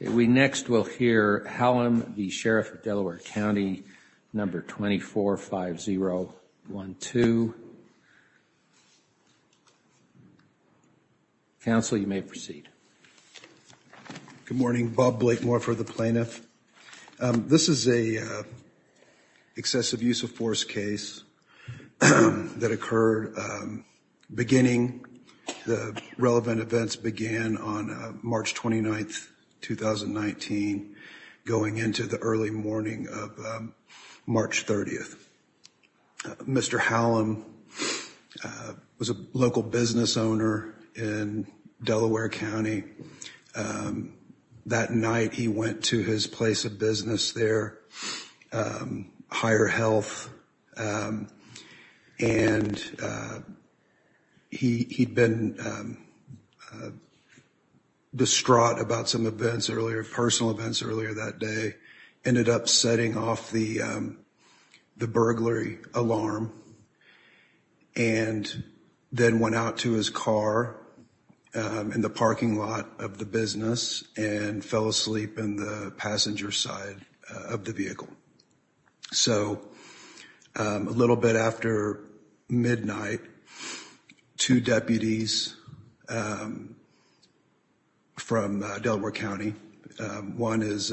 We next will hear Hallum v. Sheriff of Delaware County, number 245012. Counsel, you may proceed. Good morning, Bob Blakemore for the plaintiff. This is a excessive use of force case that occurred beginning the relevant 9th, 2019, going into the early morning of March 30th. Mr. Hallum was a local business owner in Delaware County. That night he went to his place of business there, Higher Health, and he'd been distraught about some events earlier, personal events earlier that day, ended up setting off the burglary alarm and then went out to his car in the parking lot of the business and fell asleep in the passenger side of the So a little bit after midnight, two deputies from Delaware County, one is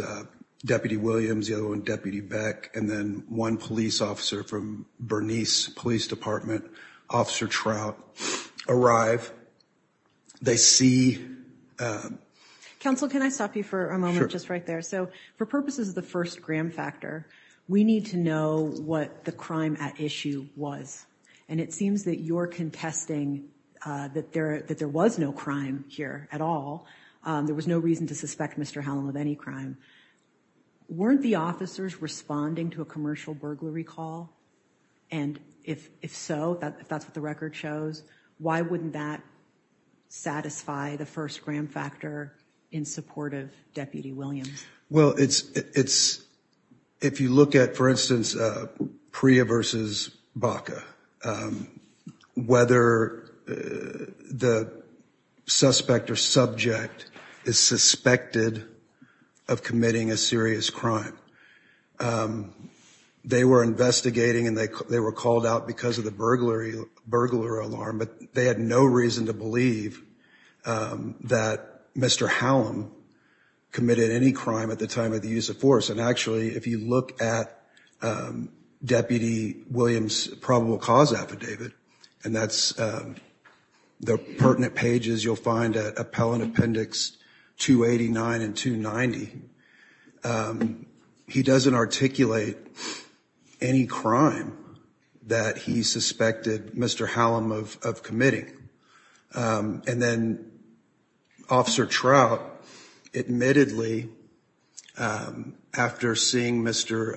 Deputy Williams, the other one, Deputy Beck, and then one police officer from Bernice Police Department, Officer Trout, arrive, they see. Counsel, can I stop you for a moment? Just right there. So for purposes of the first gram factor, we need to know what the crime at issue was, and it seems that you're contesting that there was no crime here at all. There was no reason to suspect Mr. Hallum of any crime. Weren't the officers responding to a commercial burglary call? And if so, if that's what the record shows, why wouldn't that satisfy the first gram factor in support of Deputy Williams? Well, if you look at, for instance, Priya versus Baca, whether the suspect or subject is suspected of committing a serious crime, they were investigating and they were called out because of the burglar alarm, but they had no reason to believe that Mr. Hallum committed any crime at the time of the use of force. And actually, if you look at Deputy Williams' probable cause affidavit, and that's the pertinent pages you'll find at Appellant Appendix 289 and 290, he doesn't articulate any crime that he suspected Mr. Hallum of committing. And then Officer Trout, admittedly, pretty early after seeing Mr.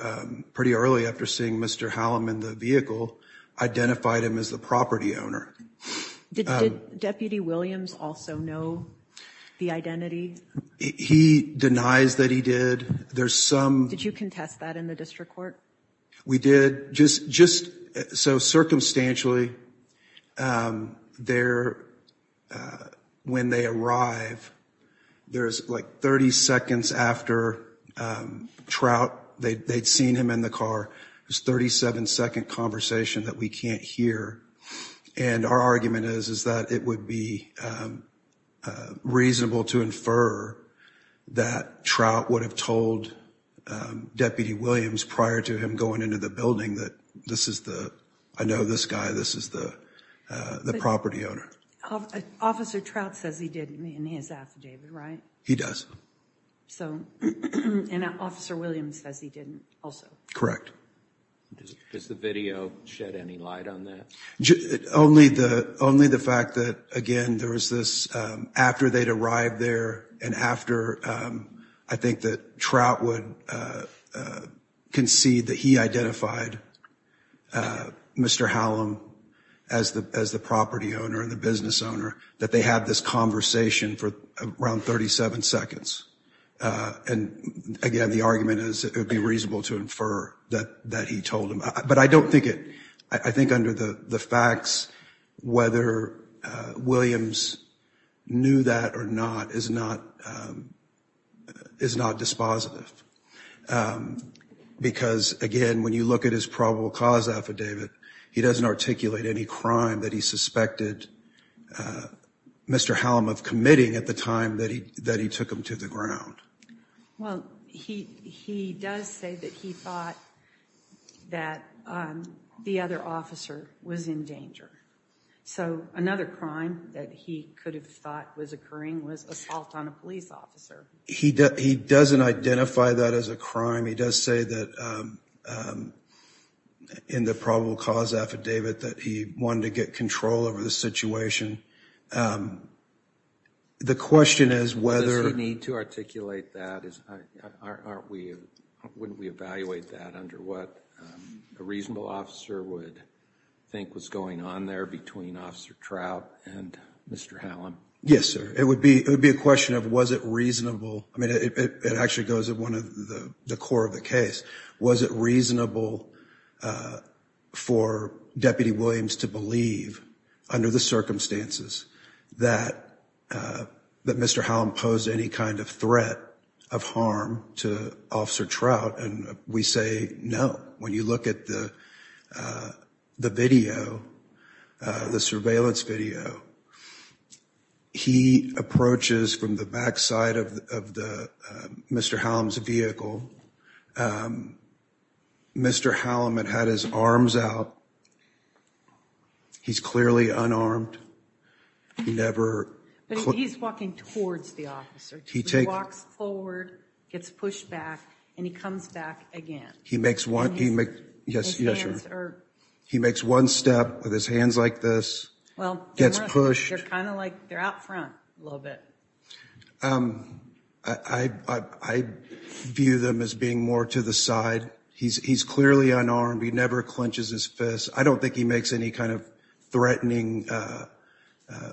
Hallum in the vehicle, identified him as the property owner. Did Deputy Williams also know the identity? He denies that he did. Did you contest that in the district court? We did. Just so circumstantially, when they arrive, there's like 30 seconds after Trout, they'd seen him in the car, there's 37 second conversation that we can't hear, and our argument is, is that it would be reasonable to infer that Trout would have told Deputy Williams prior to him going into the building that this is the, I know this guy, this is the property owner. Officer Trout says he did in his affidavit, right? He does. So, and Officer Williams says he didn't also. Correct. Does the video shed any light on that? Only the fact that, again, there was this, after they'd arrived there and after, I think that Trout would concede that he identified Mr. Hallum as the, as the property owner and the business owner, that they had this conversation for around 37 seconds. And again, the argument is it would be reasonable to infer that he told him. But I don't think it, I think under the facts, whether Williams knew that or not is not, is not dispositive, because again, when you look at his probable cause affidavit, he doesn't articulate any crime that he suspected Mr. Hallum of committing at the time that he, that he took him to the ground. Well, he, he does say that he thought that the other officer was in danger. So another crime that he could have thought was occurring was assault on a police officer. He does, he doesn't identify that as a crime. He does say that in the probable cause affidavit that he wanted to get control over the situation. The question is whether... Does he need to articulate that? Is, aren't we, wouldn't we evaluate that under what a reasonable officer would think was going on there between Officer Trout and Mr. Hallum? Yes, sir. It would be, it would be a question of, was it reasonable? I mean, it actually goes to one of the core of the case. Was it reasonable for Deputy Williams to believe under the circumstances that, that Mr. Hallum posed any kind of threat of harm to Officer Trout? And we say no. When you look at the, the video, the surveillance video, he approaches from the backside of, of the, Mr. Hallum's vehicle, Mr. Hallum had had his arms out. He's clearly unarmed. He never... But he's walking towards the officer. He walks forward, gets pushed back and he comes back again. He makes one, he makes, yes, yes, sir. He makes one step with his hands like this, gets pushed. They're kind of like, they're out front a little bit. I, I, I view them as being more to the side. He's, he's clearly unarmed. He never clenches his fist. I don't think he makes any kind of threatening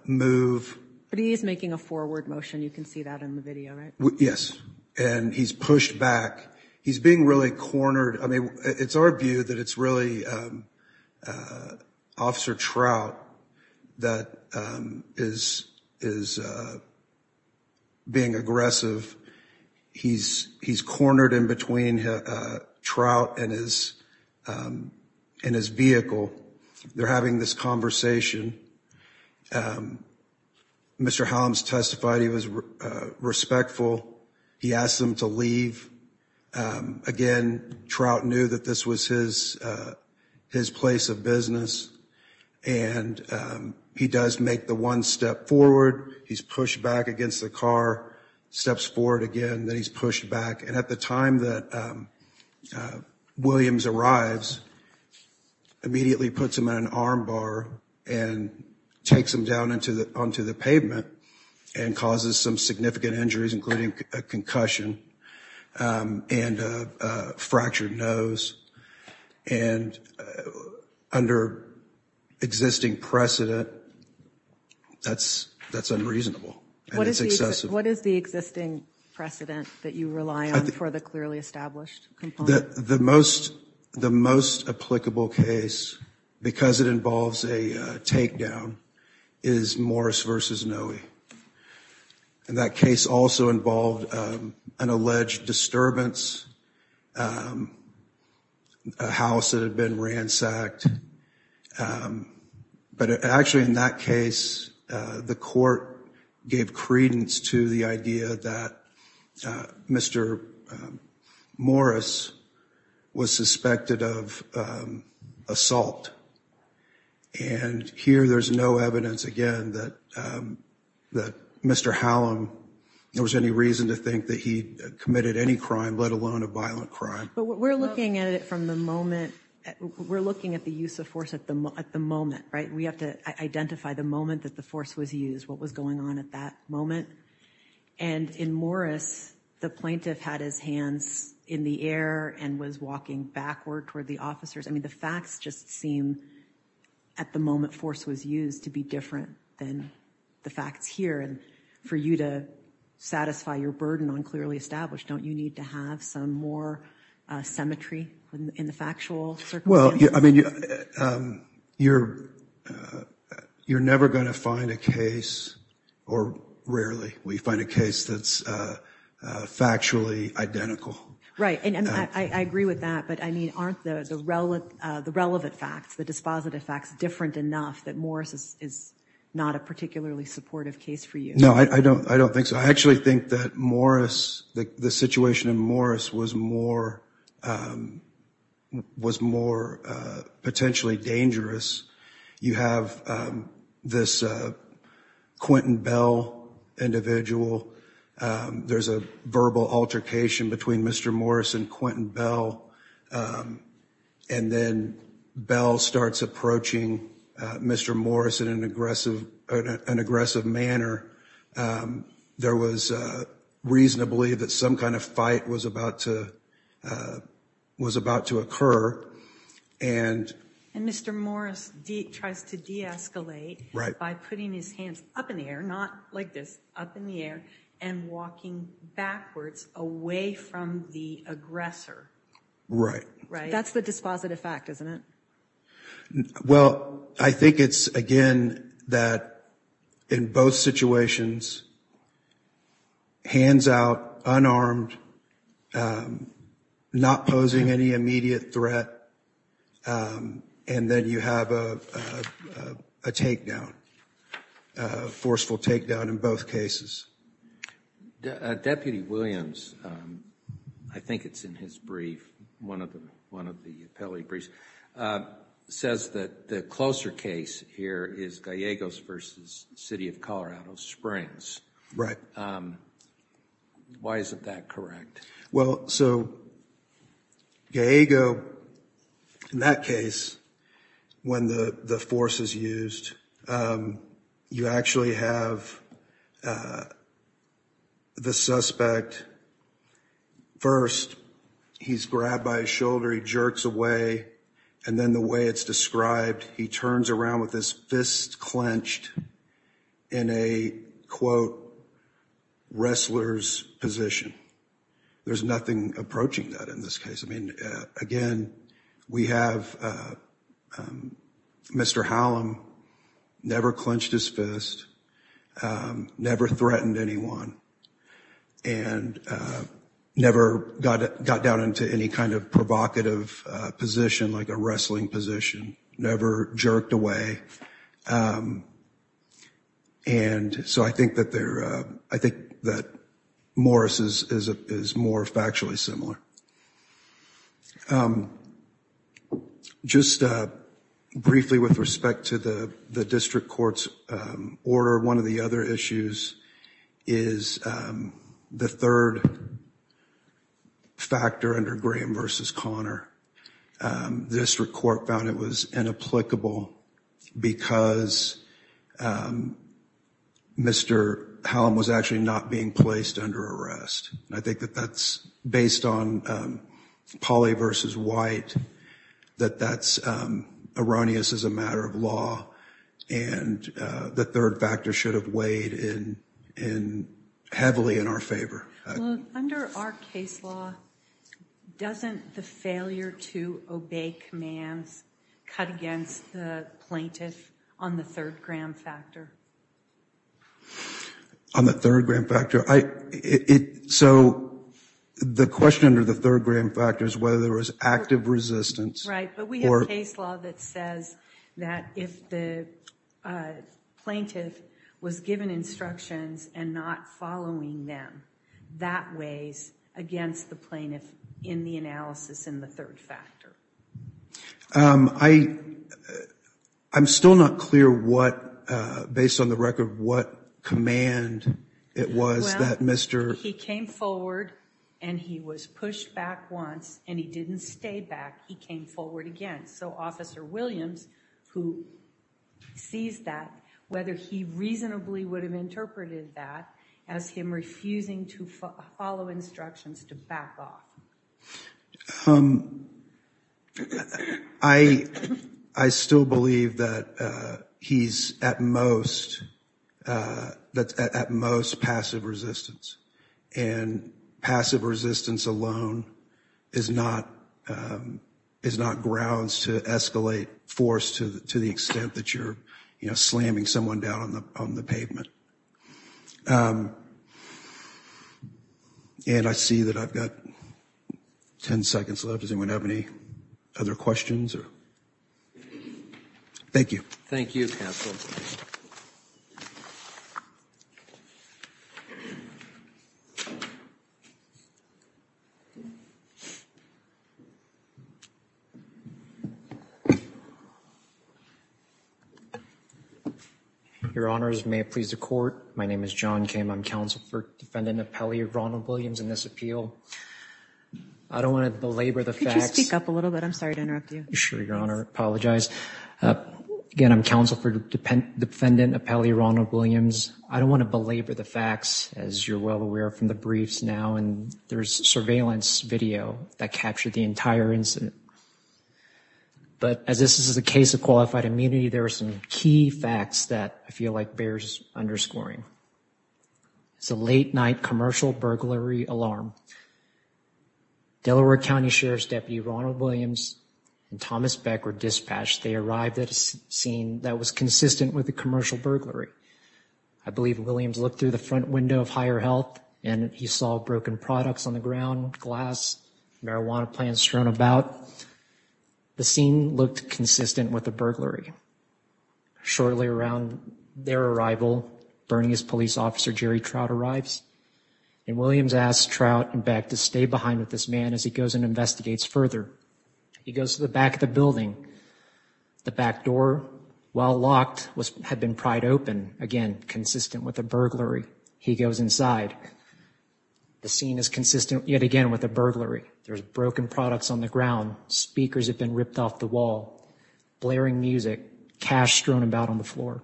move. But he is making a forward motion. You can see that in the video, right? Yes. And he's pushed back. He's being really cornered. I mean, it's our view that it's really Officer Trout that is, is being aggressive. He's, he's cornered in between Trout and his, in his vehicle. They're having this conversation. Mr. Hallum's testified he was respectful. He asked them to leave. Again, Trout knew that this was his, his place of business. And he does make the one step forward. He's pushed back against the car, steps forward again, then he's pushed back. And at the time that Williams arrives, immediately puts him on an arm bar and takes him down into the, onto the pavement and causes some significant injuries, including a concussion. And a fractured nose and under existing precedent, that's, that's unreasonable. And it's excessive. What is the existing precedent that you rely on for the clearly established component? The most, the most applicable case, because it involves a takedown, is Morris vs. Noe. And that case also involved an alleged disturbance, a house that had been ransacked, but actually in that case, the court gave credence to the idea that Mr. Morris was suspected of assault. And here there's no evidence again, that, that Mr. Hallam, there was any reason to think that he committed any crime, let alone a violent crime. But we're looking at it from the moment, we're looking at the use of force at the, at the moment, right? We have to identify the moment that the force was used, what was going on at that moment and in Morris, the plaintiff had his hands in the air and was walking backward toward the officers. I mean, the facts just seem at the moment force was used to be different than the facts here. And for you to satisfy your burden on clearly established, don't you need to have some more symmetry in the factual circumstances? Well, I mean, you're, you're never going to find a case, or rarely, we find a case that's factually identical. Right. And I agree with that, but I mean, aren't the relevant, the relevant facts, the dispositive facts different enough that Morris is not a particularly supportive case for you? No, I don't, I don't think so. I actually think that Morris, the situation in Morris was more, was more potentially dangerous. You have this Quentin Bell individual. There's a verbal altercation between Mr. Morris and Quentin Bell, and then Bell starts approaching Mr. Morris in an aggressive, an aggressive manner. There was a reasonably that some kind of fight was about to, was about to occur. And, and Mr. Morris tries to deescalate by putting his hands up in the air, not like this, up in the air, and walking backwards away from the aggressor. Right. Right. That's the dispositive fact, isn't it? Well, I think it's, again, that in both situations, hands out, unarmed, not posing any immediate threat, and then you have a, a takedown, a forceful takedown in both cases. Deputy Williams, I think it's in his brief, one of the, one of the appellate briefs, says that the closer case here is Gallegos versus City of Colorado Springs. Right. Why isn't that correct? Well, so Gallego, in that case, when the, the force is used, you actually have the suspect, first, he's grabbed by his shoulder, he jerks away, and then the way it's described, he turns around with his fists clenched in a, quote, wrestler's position. There's nothing approaching that in this case. I mean, again, we have Mr. Hallam never clenched his fist, never threatened anyone, and never got, got down into any kind of provocative position, like a wrestling position, never jerked away. And so I think that there, I think that Morris is, is, is more factually similar. Just briefly with respect to the, the district court's order, one of the other issues is the third factor under Graham versus Connor. The district court found it was inapplicable because Mr. Hallam was actually not being placed under arrest. I think that that's based on Polly versus White, that that's erroneous as a matter of law, and the third factor should have weighed in, in heavily in our favor. Under our case law, doesn't the failure to obey commands cut against the plaintiff on the third Graham factor? On the third Graham factor? I, it, so the question under the third Graham factor is whether there was active resistance. Right. But we have case law that says that if the plaintiff was given instructions and not following them, that weighs against the plaintiff in the analysis in the third factor. I, I'm still not clear what, based on the record, what command it was. Well, he came forward and he was pushed back once and he didn't stay back. He came forward again. So Officer Williams, who sees that, whether he reasonably would have interpreted that as him refusing to follow instructions to back off. Um, I, I still believe that, uh, he's at most, uh, that's at most passive resistance and passive resistance alone is not, um, is not grounds to escalate force to, to the extent that you're, you know, slamming someone down on the, on the pavement. Um, and I see that I've got 10 seconds left. Does anyone have any other questions or, thank you. Thank you counsel. Your honors, may it please the court. My name is John Kim. I'm counsel for defendant appellee Ronald Williams in this appeal. I don't want to belabor the facts. Could you speak up a little bit? I'm sorry to interrupt you. Sure, your honor. Apologize. Uh, again, I'm counsel for defendant appellee Ronald Williams. I don't want to belabor the facts as you're well aware from the briefs now, and there's surveillance video that captured the entire incident. But as this is a case of qualified immunity, there are some key facts that I feel like bears underscoring. It's a late night commercial burglary alarm. Delaware County Sheriff's deputy Ronald Williams and Thomas Beck were dispatched. They arrived at a scene that was consistent with a commercial burglary. I believe Williams looked through the front window of higher health and he saw broken products on the ground, glass, marijuana plants thrown about. The scene looked consistent with a burglary. Shortly around their arrival, Bernice police officer Jerry Trout arrives and Williams asked Trout and Beck to stay behind with this man as he goes and investigates further. He goes to the back of the building. The back door, while locked, was, had been pried open. Again, consistent with a burglary. He goes inside. The scene is consistent yet again with a burglary. There's broken products on the ground. Speakers have been ripped off the wall, blaring music, cash strewn about on the floor.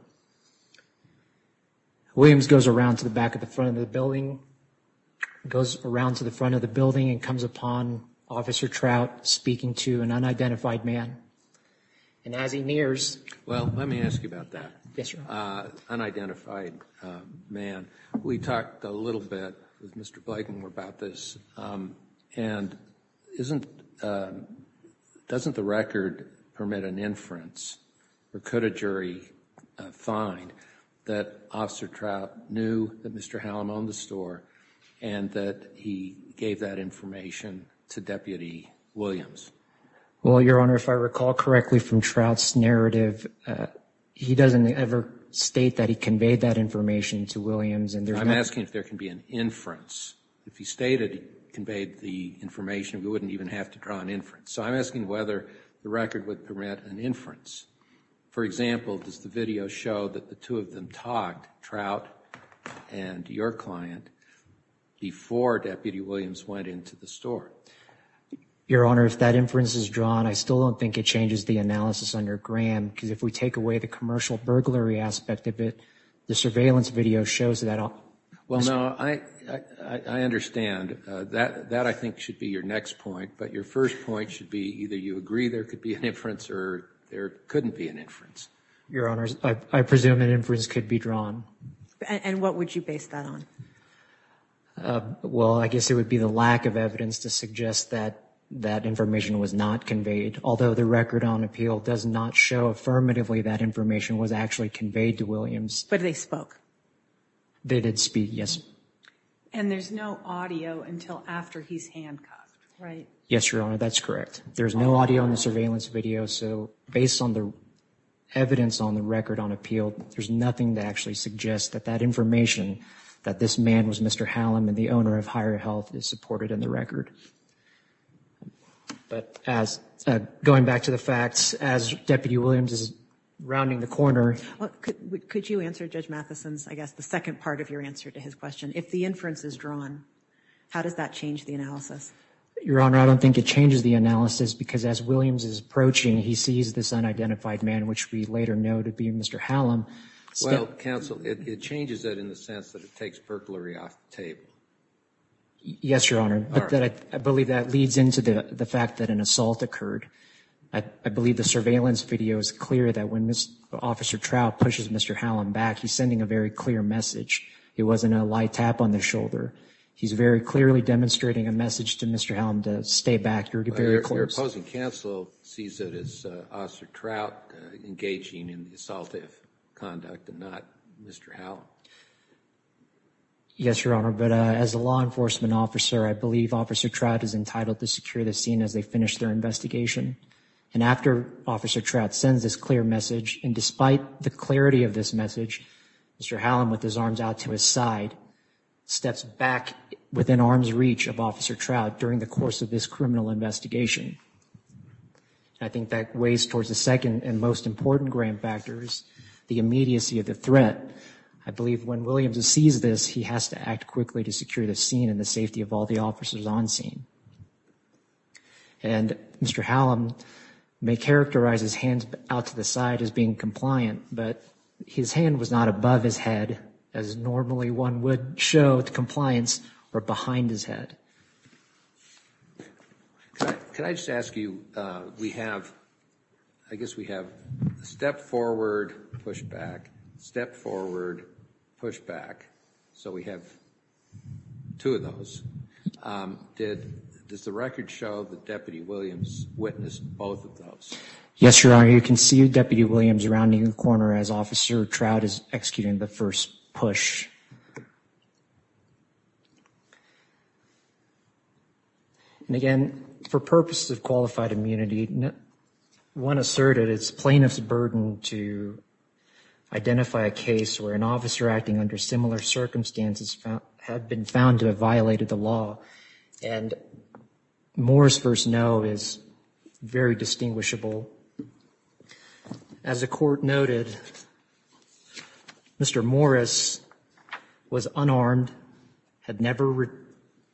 Williams goes around to the back of the front of the building, goes around to the front of the building and comes upon Officer Trout speaking to an unidentified man, and as he nears. Well, let me ask you about that. Yes, Your Honor. Unidentified man. We talked a little bit with Mr. Blakemore about this. And isn't, doesn't the record permit an inference or could a jury find that Officer Trout knew that Mr. Hallam owned the store and that he gave that information to Deputy Williams? Well, Your Honor, if I recall correctly from Trout's narrative, he doesn't ever state that he conveyed that information to Williams. And I'm asking if there can be an inference. If he stated he conveyed the information, we wouldn't even have to draw an inference. So I'm asking whether the record would permit an inference. For example, does the video show that the two of them talked, Trout and your client, before Deputy Williams went into the store? Your Honor, if that inference is drawn, I still don't think it changes the analysis under Graham, because if we take away the commercial burglary aspect of it, the surveillance video shows that. Well, no, I understand that. That, I think, should be your next point. But your first point should be either you agree there could be an inference or there couldn't be an inference. Your Honor, I presume an inference could be drawn. And what would you base that on? Well, I guess it would be the lack of evidence to suggest that that information was not conveyed, although the record on appeal does not show affirmatively that information was actually conveyed to Williams. But they spoke? They did speak, yes. And there's no audio until after he's handcuffed, right? Yes, Your Honor, that's correct. There's no audio in the surveillance video. So based on the evidence on the record on appeal, there's nothing to actually suggest that that information that this man was Mr. Hallam and the owner of Higher Health is supported in the record. But as going back to the facts, as Deputy Williams is rounding the corner. Could you answer Judge Matheson's, I guess, the second part of your answer to his question, if the inference is drawn, how does that change the analysis? Your Honor, I don't think it changes the analysis because as Williams is approaching, he sees this unidentified man, which we later know to be Mr. Hallam. Well, counsel, it changes that in the sense that it takes burglary off the table. Yes, Your Honor, I believe that leads into the fact that an assault occurred. I believe the surveillance video is clear that when this Officer Trout pushes Mr. Hallam back, he's sending a very clear message. It wasn't a light tap on the shoulder. He's very clearly demonstrating a message to Mr. Hallam to stay back. You're very close. Your opposing counsel sees it as Officer Trout engaging in the assaultive conduct and not Mr. Yes, Your Honor, but as a law enforcement officer, I believe Officer Trout is entitled to secure the scene as they finish their investigation. And after Officer Trout sends this clear message and despite the clarity of this side, steps back within arm's reach of Officer Trout during the course of this criminal investigation. I think that weighs towards the second and most important grand factors, the immediacy of the threat. I believe when Williams sees this, he has to act quickly to secure the scene and the safety of all the officers on scene. And Mr. Hallam may characterize his hands out to the side as being compliant, but his hand was not above his head as normally one would show the compliance or behind his head. Can I just ask you, we have, I guess we have a step forward, push back, step forward, push back. So we have two of those. Does the record show that Deputy Williams witnessed both of those? Yes, Your Honor, you can see Deputy Williams rounding the corner as Officer Trout is executing the first push. And again, for purposes of qualified immunity, one asserted it's plaintiff's burden to identify a case where an officer acting under similar circumstances have been found to have violated the law. And Moore's first no is very distinguishable. As the court noted, Mr. Morris was unarmed, had never,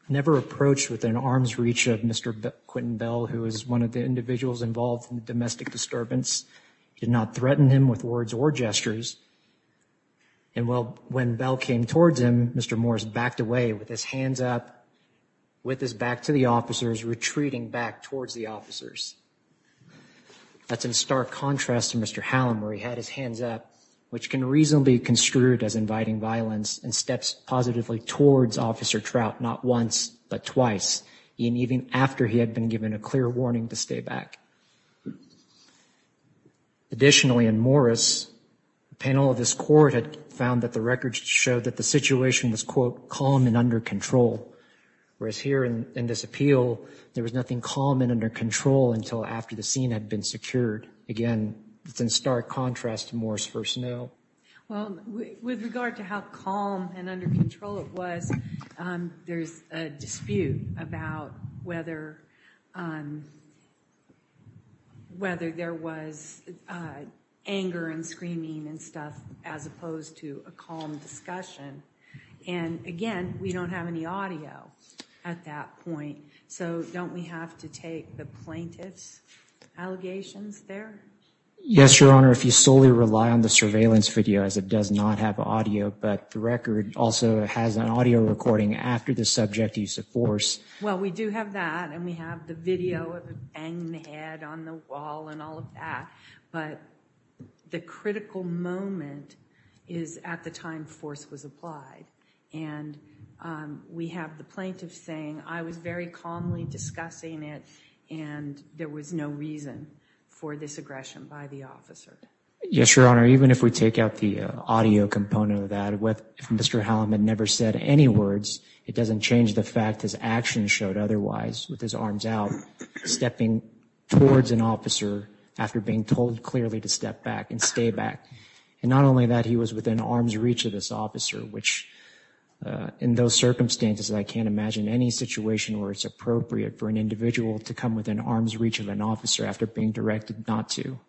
never approached with an arm's reach of Mr. Quentin Bell, who is one of the individuals involved in the domestic disturbance, did not threaten him with words or gestures. And well, when Bell came towards him, Mr. Morris backed away with his hands up, with his back to the officers, retreating back towards the officers. That's in stark contrast to Mr. Hallam, where he had his hands up, which can reasonably be construed as inviting violence and steps positively towards Officer Trout, not once, but twice, even after he had been given a clear warning to stay back. Additionally, in Morris, the panel of this court had found that the records showed that the situation was, quote, calm and under control, whereas here in this appeal, there was nothing calm and under control until after the scene had been secured. Again, it's in stark contrast to Moore's first no. Well, with regard to how calm and under control it was, there's a dispute about whether, whether there was anger and screaming and stuff as opposed to a calm discussion. And again, we don't have any audio at that point. So don't we have to take the plaintiff's allegations there? Yes, Your Honor. If you solely rely on the surveillance video, as it does not have audio, but the record also has an audio recording after the subject use of force. Well, we do have that and we have the video of a banging head on the wall and all of that. But the critical moment is at the time force was applied. And we have the plaintiff saying, I was very calmly discussing it and there was no reason for this aggression by the officer. Yes, Your Honor. Even if we take out the audio component of that, if Mr. Hallam had never said any words, it doesn't change the fact his actions showed otherwise with his arms out, stepping towards an officer after being told clearly to step back and stay back. And not only that, he was within arm's reach of this officer, which in those circumstances, I can't imagine any situation where it's appropriate for an individual to come within arm's reach of an officer after being directed not to.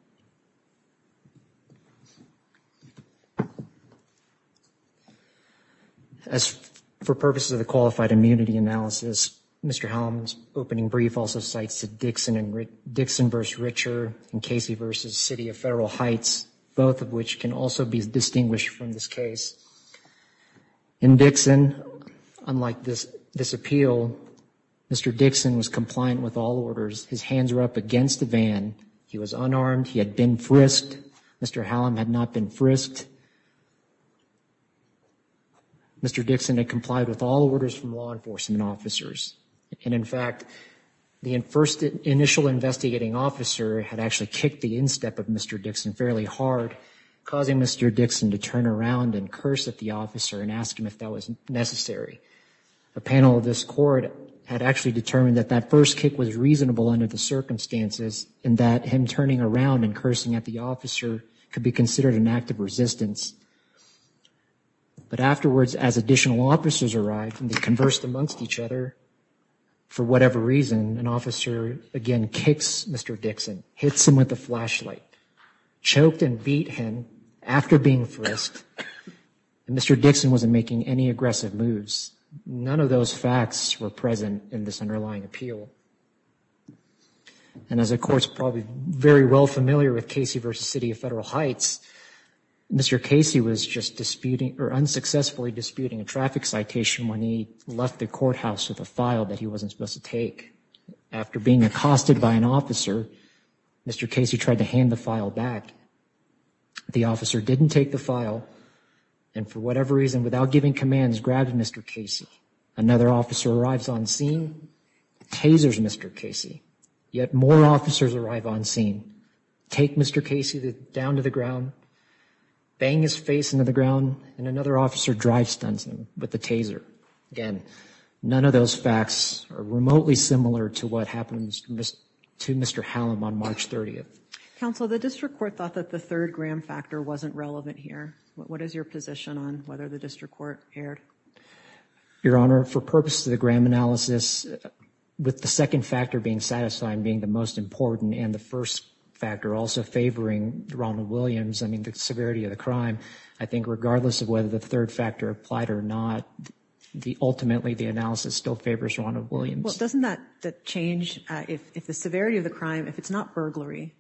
As for purposes of the qualified immunity analysis, Mr. Hallam's opening brief also cites Dixon versus Richer and Casey versus City of Heights, both of which can also be distinguished from this case. In Dixon, unlike this appeal, Mr. Dixon was compliant with all orders. His hands were up against the van. He was unarmed. He had been frisked. Mr. Hallam had not been frisked. Mr. Dixon had complied with all orders from law enforcement officers. And in fact, the first initial investigating officer had actually kicked the instep of Mr. Dixon fairly hard, causing Mr. Dixon to turn around and curse at the officer and ask him if that was necessary. A panel of this court had actually determined that that first kick was reasonable under the circumstances and that him turning around and cursing at the officer could be considered an act of resistance. But afterwards, as additional officers arrived and they conversed amongst each other, for whatever reason, an officer again kicks Mr. Dixon, hits him with a flashlight. Choked and beat him after being frisked. Mr. Dixon wasn't making any aggressive moves. None of those facts were present in this underlying appeal. And as a court's probably very well familiar with Casey versus City of Federal Heights, Mr. Casey was just disputing or unsuccessfully disputing a traffic citation when he left the courthouse with a file that he wasn't supposed to take. After being accosted by an officer, Mr. Casey tried to hand the file back. The officer didn't take the file and for whatever reason, without giving commands, grabbed Mr. Casey. Another officer arrives on scene, tasers Mr. Casey. Yet more officers arrive on scene, take Mr. Casey down to the ground, bang his face into the ground and another officer drive stunts him with the taser. Again, none of those facts are remotely similar to what happens to Mr. Hallam on March 30th. Counsel, the district court thought that the third Graham factor wasn't relevant here. What is your position on whether the district court erred? Your Honor, for purposes of the Graham analysis, with the second factor being satisfied being the most important and the first factor also favoring Ronald Williams, I mean, the severity of the crime, I think regardless of whether the third factor applied or not, the ultimately the analysis still favors Ronald Williams. Doesn't that change if the severity of the crime, if it's not burglary,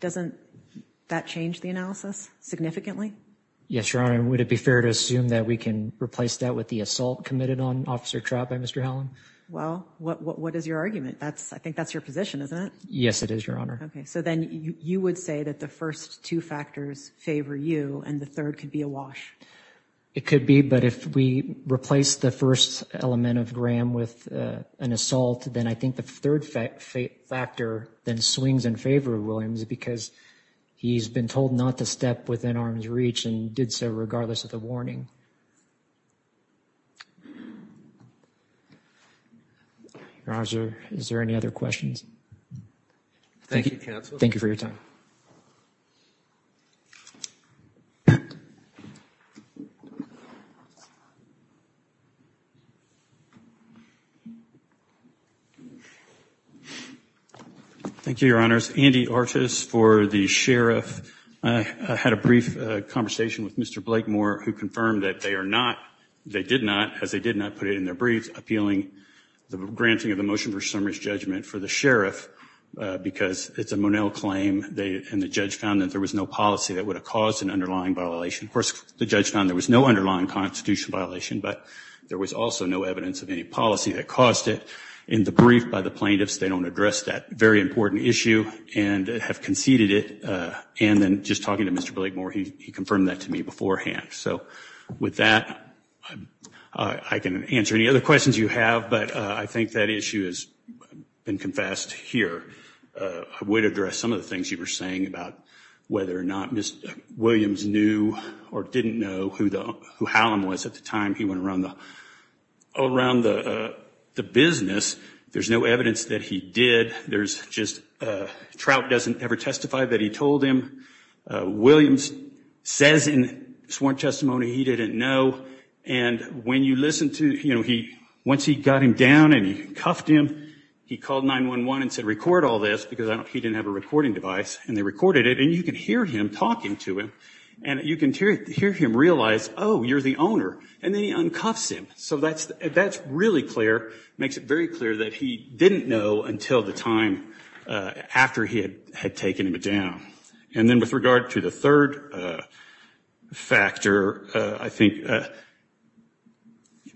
doesn't that change the analysis significantly? Yes, Your Honor. Would it be fair to assume that we can replace that with the assault committed on Officer Trout by Mr. Hallam? Well, what is your argument? That's I think that's your position, isn't it? Yes, it is, Your Honor. OK, so then you would say that the first two factors favor you and the third could be a It could be. But if we replace the first element of Graham with an assault, then I think the third factor then swings in favor of Williams because he's been told not to step within arm's reach and did so regardless of the warning. Your Honor, is there any other questions? Thank you, counsel. Thank you for your time. Thank you, Your Honors. Andy Artis for the sheriff. I had a brief conversation with Mr. Blakemore, who confirmed that they are not, they did not, as they did not put it in their brief, appealing the granting of the motion for summary judgment for the sheriff because it's a Monell claim and the judge found that there was no policy that would have caused an underlying violation. Of course, the judge found there was no underlying constitutional violation, but there was also no evidence of any policy that caused it in the brief by the plaintiffs. They don't address that very important issue and have conceded it. And then just talking to Mr. Blakemore, he confirmed that to me beforehand. So with that, I can answer any other questions you have. But I think that issue has been confessed here. I would address some of the things you were saying about whether or not Williams knew or didn't know who Hallam was at the time he went around the business. There's no evidence that he did. There's just, Trout doesn't ever testify that he told him. Williams says in sworn testimony he didn't know. And when you listen to, you know, once he got him down and he cuffed him, he called 911 and said, record all this because he didn't have a recording device. And they recorded it. And you can hear him talking to him. And you can hear him realize, oh, you're the owner. And then he uncuffs him. So that's really clear, makes it very clear that he didn't know until the time after he had taken him down. And then with regard to the third factor, I think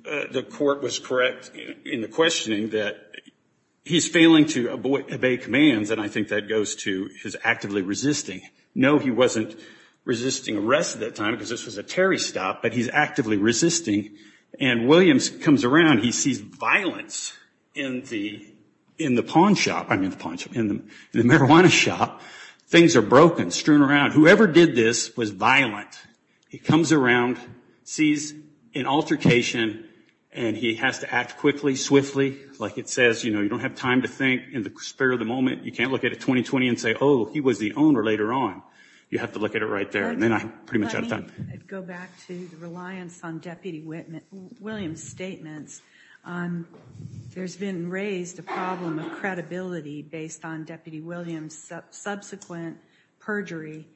the court was correct in the questioning that he's failing to obey commands. And I think that goes to his actively resisting. No, he wasn't resisting arrest at that time because this was a Terry stop, but he's actively resisting. And Williams comes around. He sees violence in the pawn shop, I mean the marijuana shop. Things are broken, strewn around. Whoever did this was violent. He comes around, sees an altercation, and he has to act quickly, swiftly. Like it says, you know, you don't have time to think in the spare of the moment. You can't look at it 20-20 and say, oh, he was the owner later on. You have to look at it right there. And then I'm pretty much out of time. Go back to the reliance on Deputy Williams' statements. There's been raised a problem of credibility based on Deputy Williams' subsequent perjury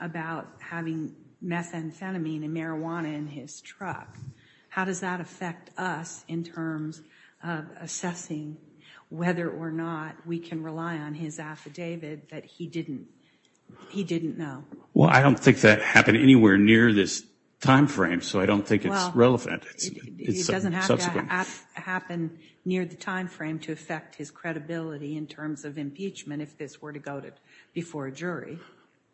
about having methamphetamine and marijuana in his truck. How does that affect us in terms of assessing whether or not we can rely on his affidavit that he didn't, he didn't know? Well, I don't think that happened anywhere near this time frame, so I don't think it's relevant. It doesn't have to happen near the time frame to affect his credibility in terms of impeachment if this were to go before a jury.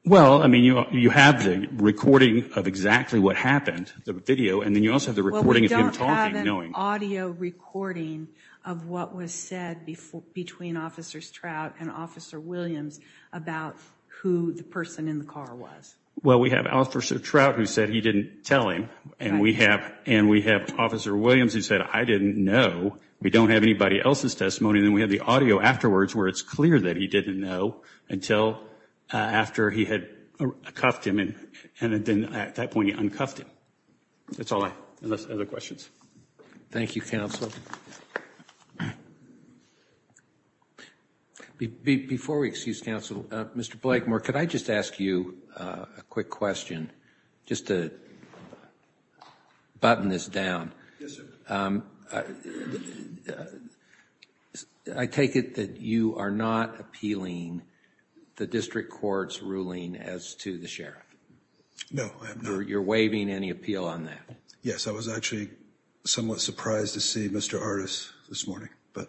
Well, I mean, you have the recording of exactly what happened, the video, and then you also have the recording of him talking, knowing. We don't have an audio recording of what was said before between Officers Trout and Officer Williams about who the person in the car was. Well, we have Officer Trout who said he didn't tell him and we have and we have Officer Williams who said, I didn't know. We don't have anybody else's testimony. And then we have the audio afterwards where it's clear that he didn't know until after he had cuffed him. And then at that point, he uncuffed him. That's all I have, other questions. Thank you, counsel. Before we excuse counsel, Mr. Blakemore, could I just ask you a quick question just to button this down? Yes, sir. I take it that you are not appealing the district court's ruling as to the sheriff. No, I'm not. You're waiving any appeal on that. Yes, I was actually somewhat surprised to see Mr. Artis this morning, but.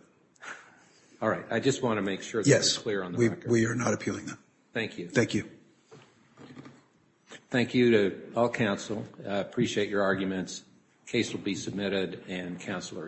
All right. I just want to make sure. Yes, we are not appealing that. Thank you. Thank you. Thank you to all counsel. Appreciate your arguments. Case will be submitted and counsel are excused.